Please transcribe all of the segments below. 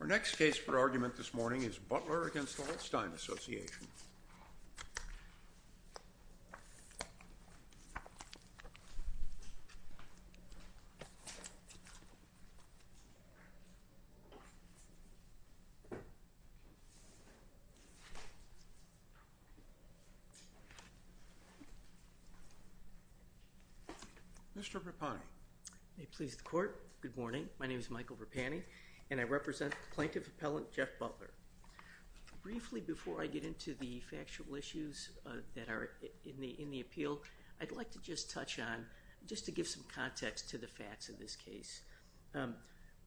Our next case for argument this morning is Butler v. Holstein Association. Mr. Rapani. May it please the court. Good morning. My name is Michael Rapani, and I represent Plaintiff Appellant Jeff Butler. Briefly before I get into the factual issues that are in the appeal, I'd like to just touch on, just to give some context to the facts of this case.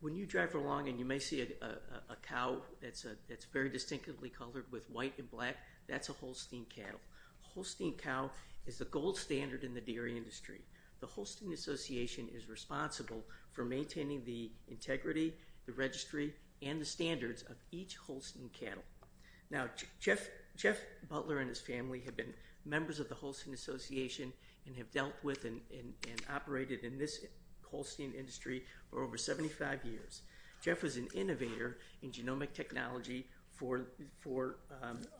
When you drive along and you may see a cow that's very distinctively colored with white and black, that's a Holstein cattle. Holstein cow is the gold standard in the dairy industry. The association is responsible for maintaining the integrity, the registry, and the standards of each Holstein cattle. Now, Jeff Butler and his family have been members of the Holstein Association and have dealt with and operated in this Holstein industry for over 75 years. Jeff was an innovator in genomic technology for...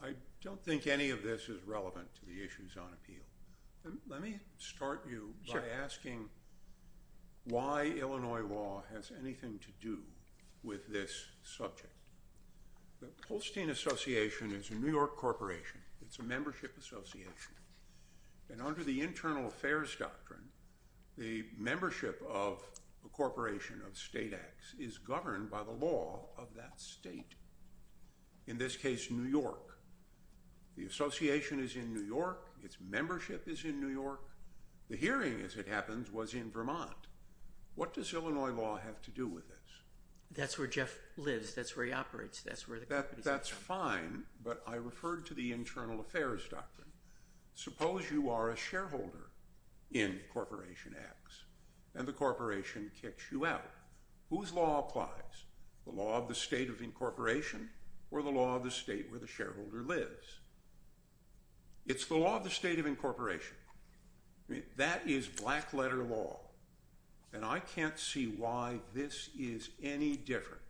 I don't think any of this is relevant to the issues on appeal. Let me start you by asking why Illinois law has anything to do with this subject. The Holstein Association is a New York corporation. It's a membership association. And under the internal affairs doctrine, the membership of a corporation of state acts is governed by the law of that state. In this case, New York. The association is in New York. Its membership is in New York. The hearing, as it happens, was in Vermont. What does Illinois law have to do with this? That's where Jeff lives. That's where he operates. That's where the... That's fine, but I referred to the internal affairs doctrine. Suppose you are a shareholder in corporation acts and the corporation kicks you out. Whose law applies? The law of the state of incorporation or the law of the state where the shareholder lives. It's the law of the state of incorporation. That is black letter law. And I can't see why this is any different.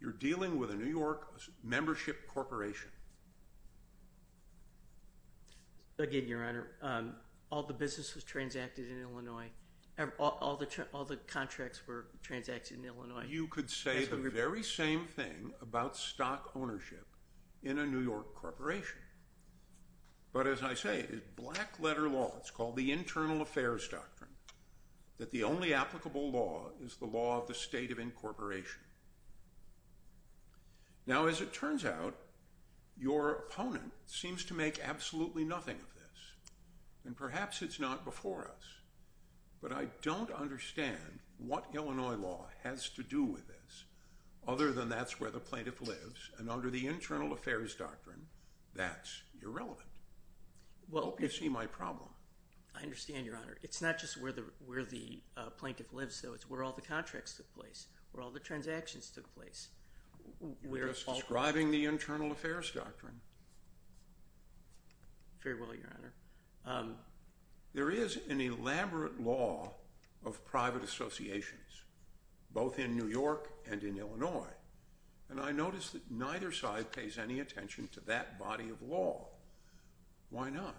You're dealing with a New York membership corporation. Again, Your Honor, all the business was transacted in Illinois. All the contracts were transacted in Illinois. You could say the very same thing about stock ownership in a New York corporation. But as I say, it's black letter law. It's called the internal affairs doctrine. That the only applicable law is the law of the state of incorporation. Now, as it turns out, your opponent seems to make absolutely nothing of this. And perhaps it's not before us. But I don't understand what Illinois law has to do with this other than that's where the plaintiff lives. And under the internal affairs doctrine, that's irrelevant. I hope you see my problem. I understand, Your Honor. It's not just where the plaintiff lives, though. It's where all the contracts took place, where all the transactions took place. You're just deriving the internal affairs doctrine. Very well, Your Honor. There is an elaborate law of private associations, both in New York and in Illinois. And I notice that neither side pays any attention to that body of law. Why not?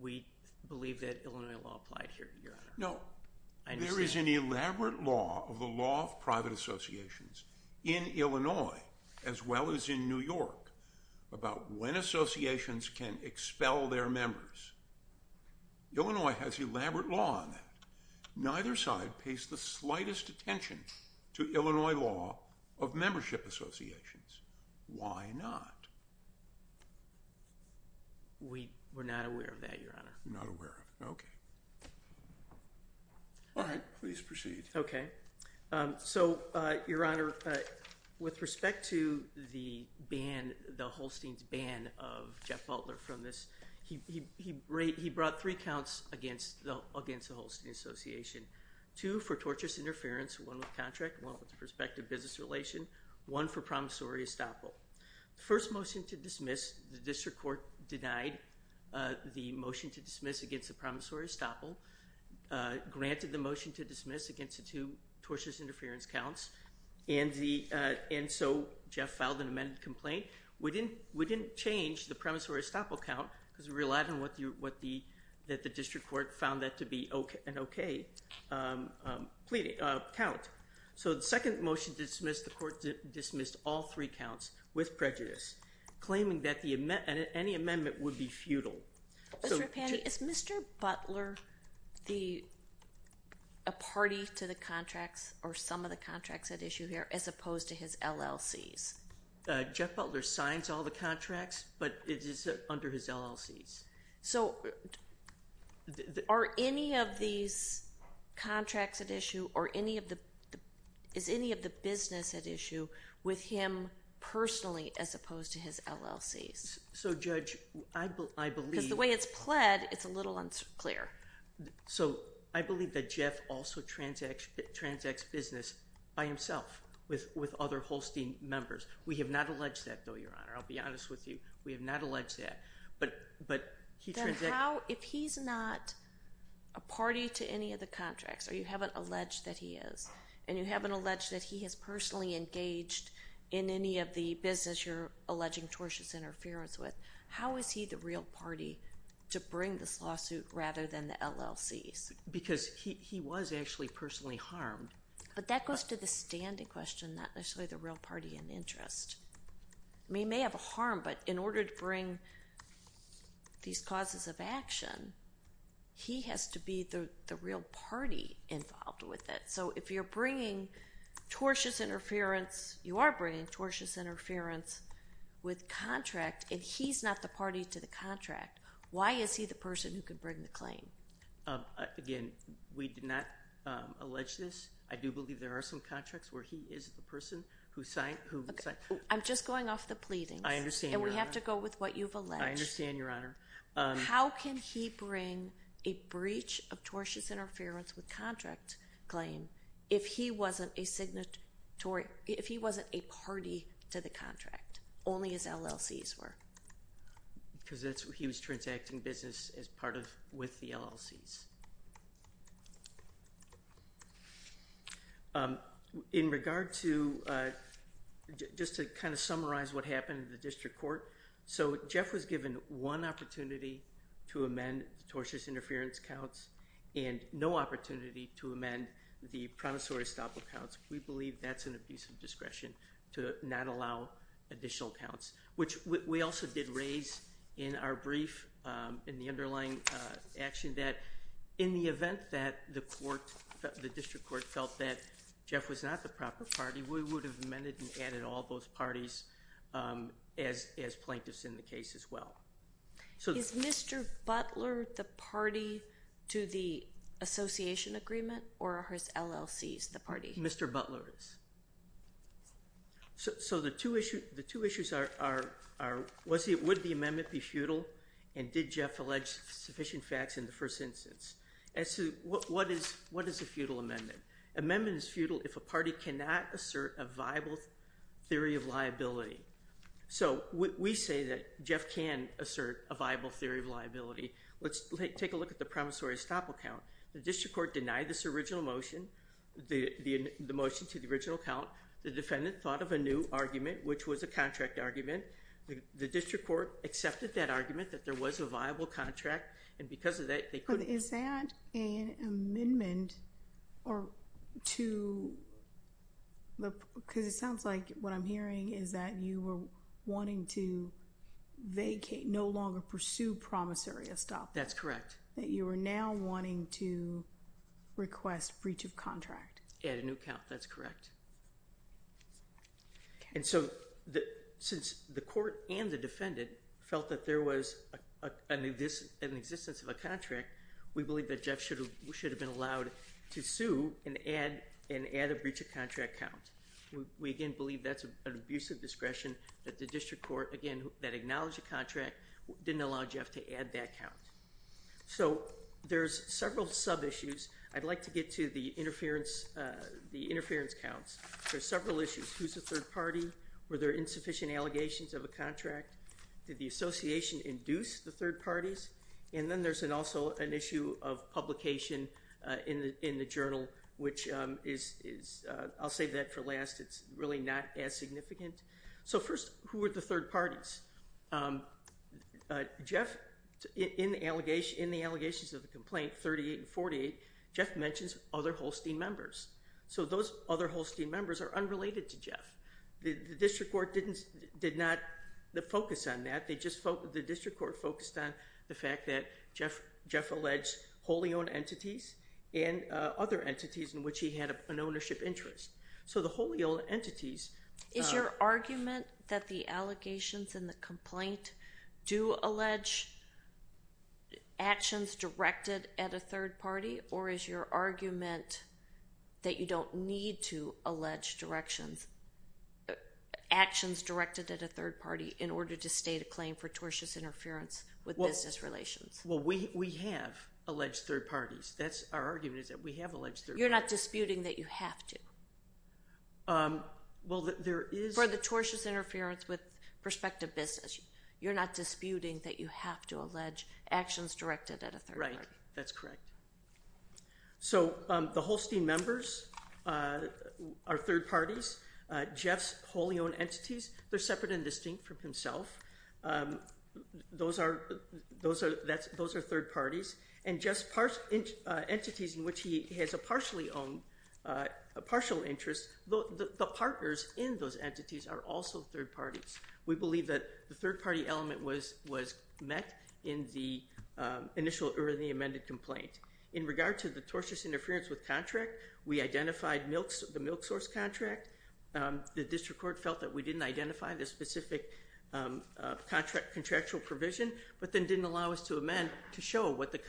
We believe that Illinois law applied No. There is an elaborate law of the law of private associations in Illinois as well as in New York about when associations can expel their members. Illinois has elaborate law on that. Neither side pays the slightest attention to Illinois law of membership associations. Why not? We're not aware of that, Your Honor. Not aware of it. Okay. All right. Please proceed. Okay. So, Your Honor, with respect to the ban, the Holstein's ban of Jeff Butler from this, he brought three counts against the Holstein Association. Two for torturous interference, one with contract, one with the prospective business relation, one for promissory estoppel. The first motion to dismiss, the district court denied the motion to dismiss against the promissory estoppel, granted the motion to dismiss against the two torturous interference counts, and so Jeff filed an amended complaint. We didn't change the promissory estoppel count because we relied on what the district court found that to be an okay count. So the second motion to dismiss, the court dismissed all three counts with prejudice, claiming that any amendment would be futile. Mr. Rapani, is Mr. Butler a party to the contracts or some of the contracts at issue here as opposed to his LLCs? Jeff Butler signs all the contracts, but it is under his LLCs. So, are any of these contracts at issue or is any of the business at issue with him personally as opposed to his LLCs? So, Judge, I believe... Because the way it's pled, it's a little unclear. So, I believe that Jeff also transacts business by himself with other Holstein members. We have not alleged that, though, Your Honor. I'll be honest with you. We have not alleged that. But he transacts... Then how, if he's not a party to any of the contracts, or you haven't alleged that he is, and you haven't alleged that he has personally engaged in any of the business you're alleging tortious interference with, how is he the real party to bring this lawsuit rather than the LLCs? Because he was actually personally harmed. But that goes to the standing question, not necessarily the real party in interest. He may have a harm, but in order to bring these causes of action, he has to be the real party involved with it. So, if you're bringing tortious interference, you are bringing tortious interference with contract, and he's not the party to the contract, why is he the person who could bring the claim? Again, we did not allege this. I do believe there are some contracts where he is the person who signed... I'm just going off the pleadings. I understand, Your Honor. And we have to go with what you've alleged. I understand, Your Honor. How can he bring a breach of tortious interference with contract claim if he wasn't a party to the contract, only his LLCs were? Because he was transacting business as part of, with the LLCs. In regard to, just to kind of summarize what happened in the district court, so Jeff was given one opportunity to amend the tortious interference counts and no opportunity to amend the promissory stop accounts. We believe that's an abuse of discretion to not allow additional counts, which we also did raise in our brief, in the underlying action, that in the event that the court, the district court felt that Jeff was not the proper party, we would have amended and added all those parties as plaintiffs in the case as well. Is Mr. Butler the party to the association agreement, or are his LLCs the party? Mr. Butler is. So the two issues are, would the amendment be futile, and did Jeff allege sufficient facts in the first instance? What is a futile amendment? Amendment is futile if a party cannot assert a viable theory of liability. So we say that Jeff can assert a viable theory of liability. Let's take a look at the promissory stop account. The district court denied this original motion, the motion to the original account. The defendant thought of a new argument, which was a contract argument. The district court accepted that argument, that there was a viable contract, and because of that they couldn't. But is that an amendment to the, because it sounds like what I'm hearing is that you were wanting to vacate, no longer pursue promissory stop. That's correct. That you were now wanting to request breach of contract. Add a new count. That's correct. And so since the court and the defendant felt that there was an existence of a contract, we believe that Jeff should have been allowed to sue and add a breach of contract count. We again believe that's an abuse of discretion that the district court, again, that acknowledged the contract, didn't allow Jeff to add that count. So there's several sub-issues. I'd like to get to the interference counts. There's several issues. Who's the third party? Were there insufficient allegations of a contract? Did the association induce the third parties? And then there's also an issue of publication in the journal, which is, I'll save that for last. It's really not as significant. So first, who are the third parties? Jeff, in the allegations of the complaint 38 and 48, Jeff mentions other Holstein members. So those other Holstein members are unrelated to Jeff. The district court did not focus on that. The district court focused on the fact that Jeff alleged wholly owned entities and other entities in which he had an ownership interest. So the wholly owned entities. Is your argument that the allegations in the complaint do allege actions directed at a third party, or is your argument that you don't need to allege actions directed at a third party in order to state a claim for tortious interference with business relations? Well, we have alleged third parties. Our argument is that we have alleged third parties. You're not disputing that you have to? Well, there is. For the tortious interference with prospective business, you're not disputing that you have to allege actions directed at a third party. Right. That's correct. So the Holstein members are third parties. Jeff's wholly owned entities, they're separate and distinct from himself. Those are third parties. And just entities in which he has a partial interest, the partners in those entities are also third parties. We believe that the third party element was met in the amended complaint. In regard to the tortious interference with contract, we identified the milk source contract. The district court felt that we didn't identify the specific contractual provision, but then didn't allow us to amend to show what the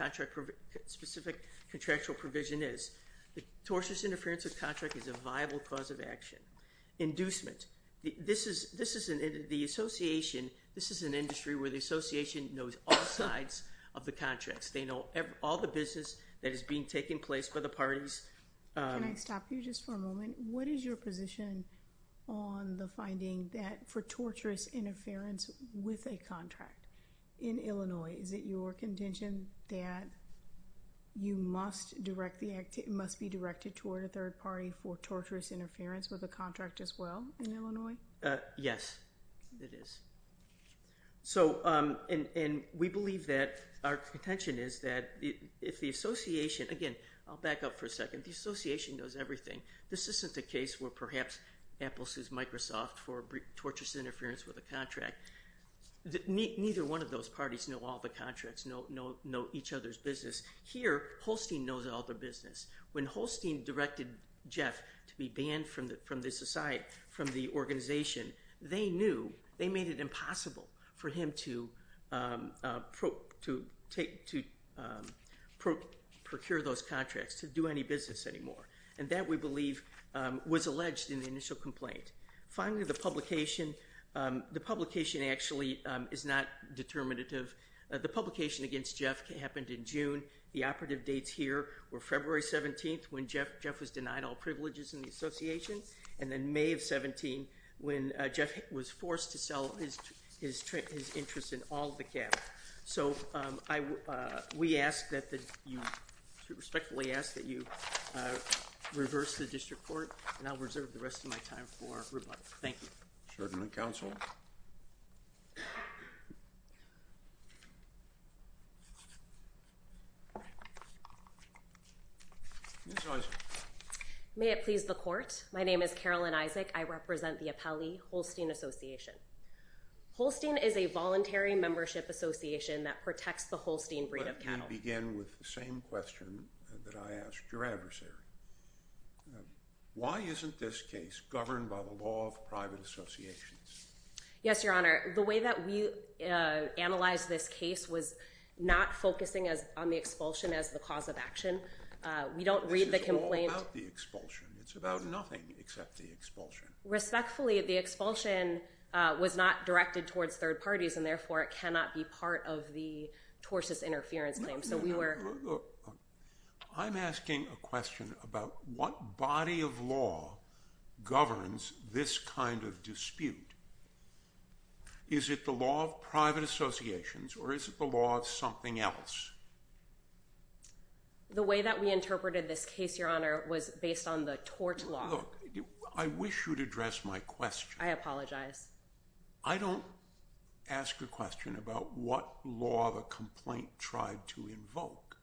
specific contractual provision is. The tortious interference with contract is a viable cause of action. Inducement. This is an industry where the association knows all sides of the contracts. They know all the business that is being taken place by the parties. Can I stop you just for a moment? What is your position on the finding that for tortious interference with a contract in Illinois, is it your contention that you must be directed toward a third party for tortious interference with a contract as well in Illinois? Yes, it is. And we believe that our contention is that if the association, again, I'll back up for a second, the association knows everything. This isn't the case where perhaps Apple sues Microsoft for tortious interference with a contract. Neither one of those parties know all the contracts, know each other's business. Here, Holstein knows all the business. When Holstein directed Jeff to be banned from the organization, they knew, they made it impossible for him to procure those contracts, to do any business anymore. And that, we believe, was alleged in the initial complaint. Finally, the publication actually is not determinative. The publication against Jeff happened in June. The operative dates here were February 17th, when Jeff was denied all privileges in the association, and then May of 17, when Jeff was forced to sell his interest in all the capital. So we ask that you, we respectfully ask that you reverse the district court, and I'll reserve the rest of my time for rebuttal. Thank you. Certainly, counsel. Ms. Isaac. May it please the court, my name is Carolyn Isaac. I represent the Apelli Holstein Association. Holstein is a voluntary membership association that protects the Holstein breed of cattle. Let me begin with the same question that I asked your adversary. Why isn't this case governed by the law of private associations? Yes, Your Honor. The way that we analyzed this case was not focusing on the expulsion as the cause of action. We don't read the complaint. This is all about the expulsion. It's about nothing except the expulsion. Respectfully, the expulsion was not directed towards third parties, and therefore it cannot be part of the torsus interference claim. I'm asking a question about what body of law governs this kind of dispute. Is it the law of private associations, or is it the law of something else? The way that we interpreted this case, Your Honor, was based on the tort law. Look, I wish you would address my question. I apologize. I don't ask a question about what law the complaint tried to invoke.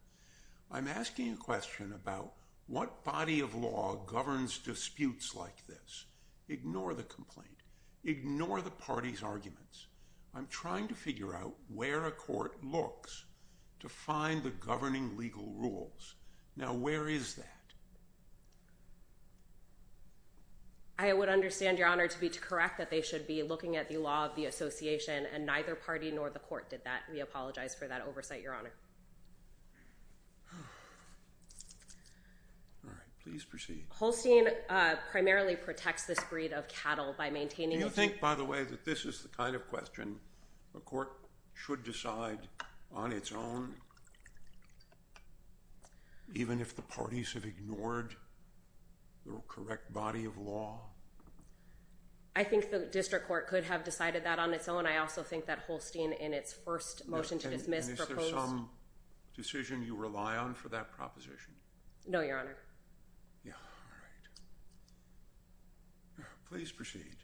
I'm asking a question about what body of law governs disputes like this. Ignore the complaint. Ignore the parties' arguments. I'm trying to figure out where a court looks to find the governing legal rules. Now, where is that? I would understand, Your Honor, to correct that they should be looking at the law of the association, and neither party nor the court did that. We apologize for that oversight, Your Honor. All right. Please proceed. Holstein primarily protects this breed of cattle by maintaining a Do you think, by the way, that this is the kind of question a court should decide on its own, even if the parties have ignored the correct body of law? I think the district court could have decided that on its own. I also think that Holstein, in its first motion to dismiss, proposed And is there some decision you rely on for that proposition? No, Your Honor. Yeah, all right. Please proceed.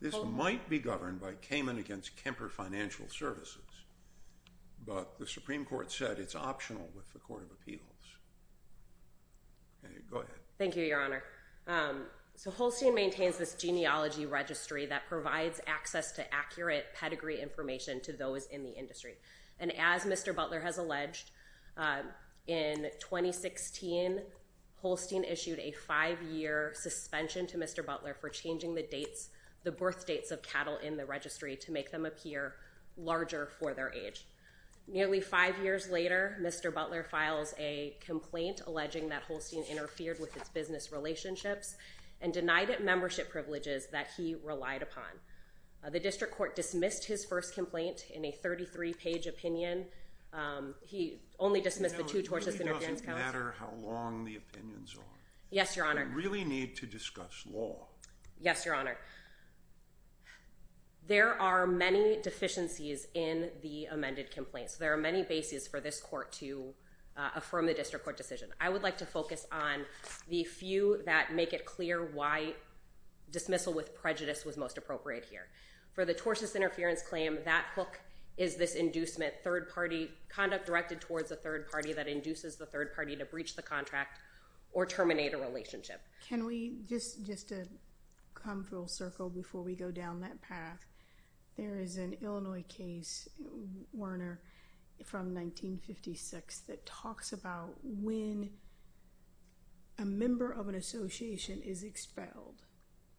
This might be governed by Kamen against Kemper Financial Services, but the Supreme Court said it's optional with the Court of Appeals. Go ahead. Thank you, Your Honor. So Holstein maintains this genealogy registry that provides access to accurate pedigree information to those in the industry. And as Mr. Butler has alleged, in 2016, Holstein issued a five-year suspension to Mr. Butler for changing the birth dates of cattle in the registry to make them appear larger for their age. Nearly five years later, Mr. Butler files a complaint alleging that Holstein interfered with its business relationships and denied it membership privileges that he relied upon. The district court dismissed his first complaint in a 33-page opinion. He only dismissed the two tortious interventions counts. Now, it really doesn't matter how long the opinions are. Yes, Your Honor. We really need to discuss law. Yes, Your Honor. There are many deficiencies in the amended complaints. There are many bases for this court to affirm the district court decision. I would like to focus on the few that make it clear why dismissal with prejudice was most appropriate here. For the tortious interference claim, that hook is this inducement, third-party conduct directed towards a third party that induces the third party to breach the contract or terminate a relationship. Can we just come full circle before we go down that path? There is an Illinois case, Werner, from 1956 that talks about when a member of an association is expelled.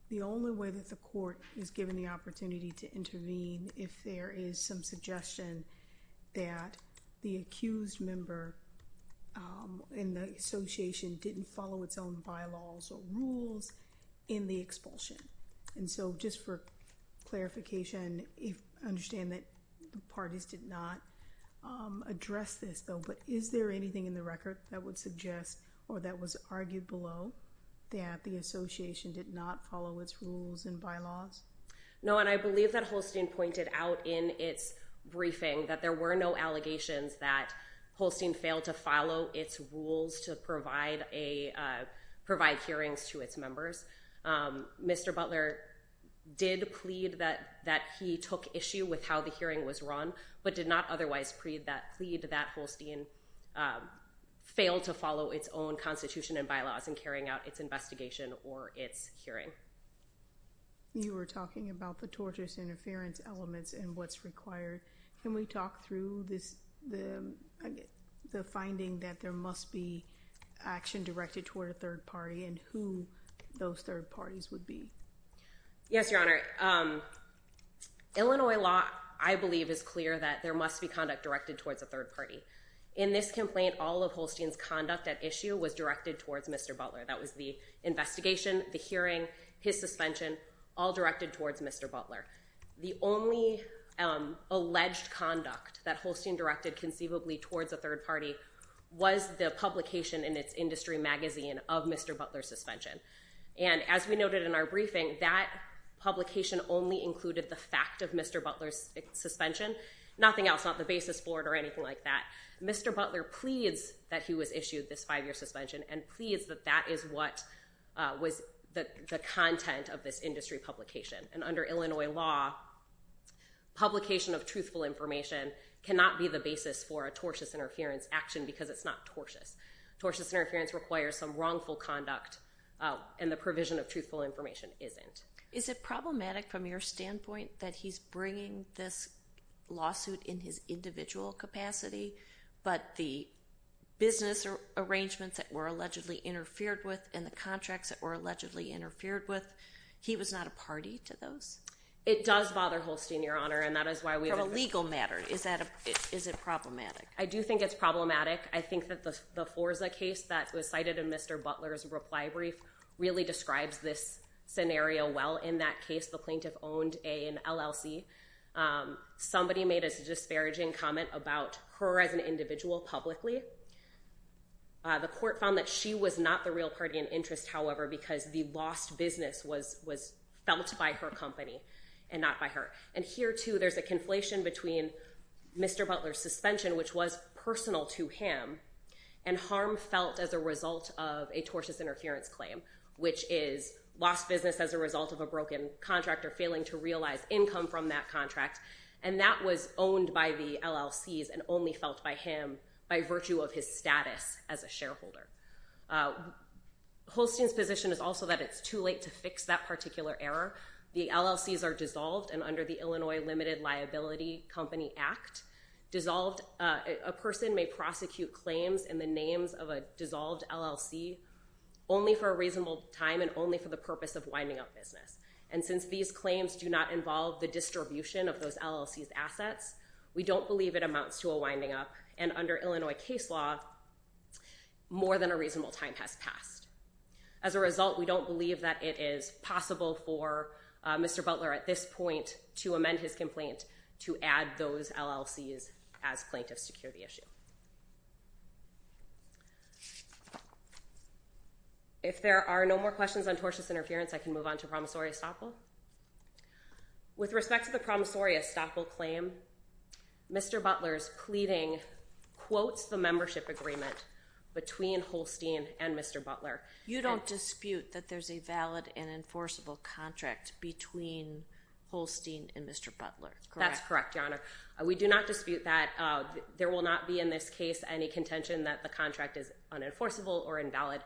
The only way that the court is given the opportunity to intervene if there is some suggestion that the accused member in the association didn't follow its own bylaws or rules in the expulsion. And so, just for clarification, I understand that the parties did not address this, though, but is there anything in the record that would suggest or that was argued below that the association did not follow its rules and bylaws? No, and I believe that Holstein pointed out in its briefing that there were no allegations that Holstein failed to follow its rules to provide hearings to its members. Mr. Butler did plead that he took issue with how the hearing was run, but did not otherwise plead that Holstein failed to follow its own constitution and bylaws in carrying out its investigation or its hearing. You were talking about the tortious interference elements and what's required. Can we talk through the finding that there must be action directed toward a third party and who those third parties would be? Yes, Your Honor. Illinois law, I believe, is clear that there must be conduct directed towards a third party. In this complaint, all of Holstein's conduct at issue was directed towards Mr. Butler. That was the investigation, the hearing, his suspension, all directed towards Mr. Butler. The only alleged conduct that Holstein directed conceivably towards a third party was the publication in its industry magazine of Mr. Butler's suspension. And as we noted in our briefing, that publication only included the fact of Mr. Butler's suspension, nothing else, not the basis board or anything like that. Mr. Butler pleads that he was issued this five-year suspension and pleads that that is what was the content of this industry publication. And under Illinois law, publication of truthful information cannot be the basis for a tortious interference action because it's not tortious. Tortious interference requires some wrongful conduct and the provision of truthful information isn't. Is it problematic from your standpoint that he's bringing this lawsuit in his individual capacity, but the business arrangements that were allegedly interfered with and the contracts that were allegedly interfered with, he was not a party to those? It does bother Holstein, Your Honor, and that is why we— From a legal matter, is it problematic? I do think it's problematic. I think that the Forza case that was cited in Mr. Butler's reply brief really describes this scenario well. In that case, the plaintiff owned an LLC. Somebody made a disparaging comment about her as an individual publicly. The court found that she was not the real party in interest, however, because the lost business was felt by her company and not by her. And here, too, there's a conflation between Mr. Butler's suspension, which was personal to him, and harm felt as a result of a tortious interference claim, which is lost business as a result of a broken contract or failing to realize income from that contract. And that was owned by the LLCs and only felt by him by virtue of his status as a shareholder. Holstein's position is also that it's too late to fix that particular error. The LLCs are dissolved, and under the Illinois Limited Liability Company Act, a person may prosecute claims in the names of a dissolved LLC only for a reasonable time and only for the purpose of winding up business. And since these claims do not involve the distribution of those LLCs' assets, we don't believe it amounts to a winding up, and under Illinois case law, more than a reasonable time has passed. As a result, we don't believe that it is possible for Mr. Butler at this point to amend his complaint to add those LLCs as plaintiffs to cure the issue. If there are no more questions on tortious interference, I can move on to promissory estoppel. With respect to the promissory estoppel claim, Mr. Butler's pleading quotes the membership agreement between Holstein and Mr. Butler. You don't dispute that there's a valid and enforceable contract between Holstein and Mr. Butler, correct? That's correct, Your Honor. We do not dispute that. There will not be in this case any contention that the contract is unenforceable or invalid,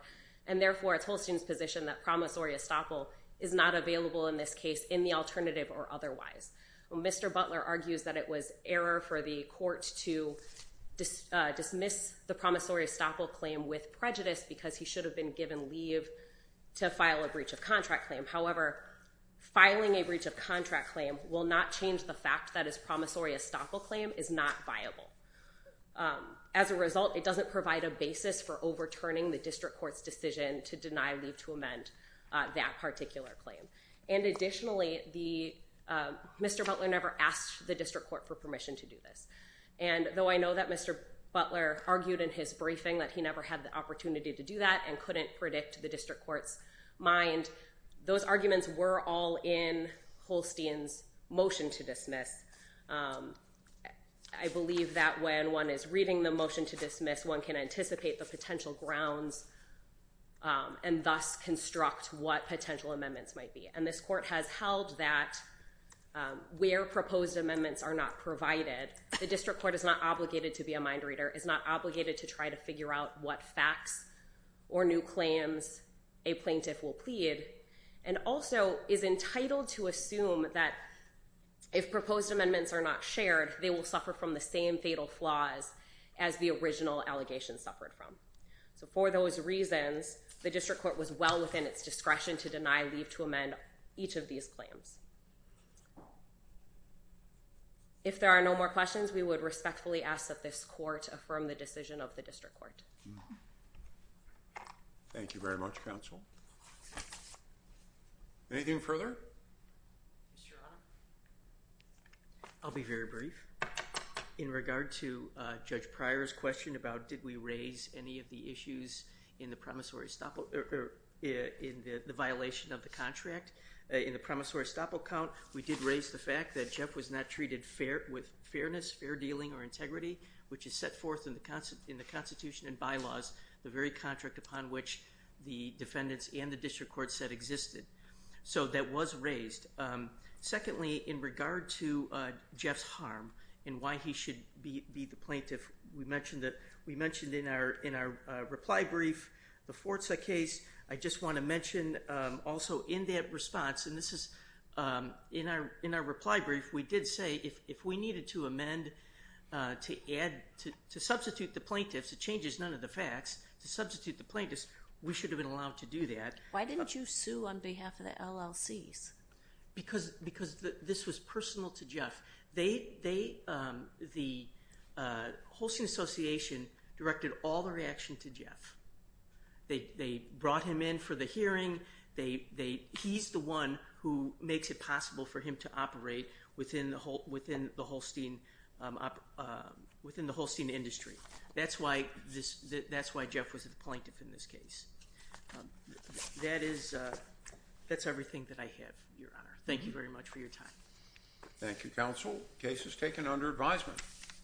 and therefore it's Holstein's position that promissory estoppel is not available in this case in the alternative or otherwise. Mr. Butler argues that it was error for the court to dismiss the promissory estoppel claim with prejudice because he should have been given leave to file a breach of contract claim. However, filing a breach of contract claim will not change the fact that his promissory estoppel claim is not viable. As a result, it doesn't provide a basis for overturning the district court's decision to deny leave to amend that particular claim. And additionally, Mr. Butler never asked the district court for permission to do this. And though I know that Mr. Butler argued in his briefing that he never had the opportunity to do that and couldn't predict the district court's mind, those arguments were all in Holstein's motion to dismiss. I believe that when one is reading the motion to dismiss, one can anticipate the potential grounds and thus construct what potential amendments might be. And this court has held that where proposed amendments are not provided, the district court is not obligated to be a mind reader, is not obligated to try to figure out what facts or new claims a plaintiff will plead, and also is entitled to assume that if proposed amendments are not shared, they will suffer from the same fatal flaws as the original allegation suffered from. So for those reasons, the district court was well within its discretion to deny leave to amend each of these claims. If there are no more questions, we would respectfully ask that this court affirm the decision of the district court. Thank you very much, counsel. Anything further? I'll be very brief. In regard to Judge Pryor's question about did we raise any of the issues in the promissory stop, or in the violation of the contract, in the promissory stop account, we did raise the fact that Jeff was not treated with fairness, fair dealing, or integrity, which is set forth in the Constitution and bylaws, the very contract upon which the defendants and the district court said existed. So that was raised. Secondly, in regard to Jeff's harm and why he should be the plaintiff, we mentioned in our reply brief the Forza case. I just want to mention also in that response, and this is in our reply brief, we did say if we needed to amend to substitute the plaintiffs, it changes none of the facts, to substitute the plaintiffs, we should have been allowed to do that. Why didn't you sue on behalf of the LLCs? Because this was personal to Jeff. The Holstein Association directed all the reaction to Jeff. They brought him in for the hearing. He's the one who makes it possible for him to operate within the Holstein industry. That's why Jeff was the plaintiff in this case. That is everything that I have, Your Honor. Thank you very much for your time. Thank you, Counsel. Case is taken under advisement.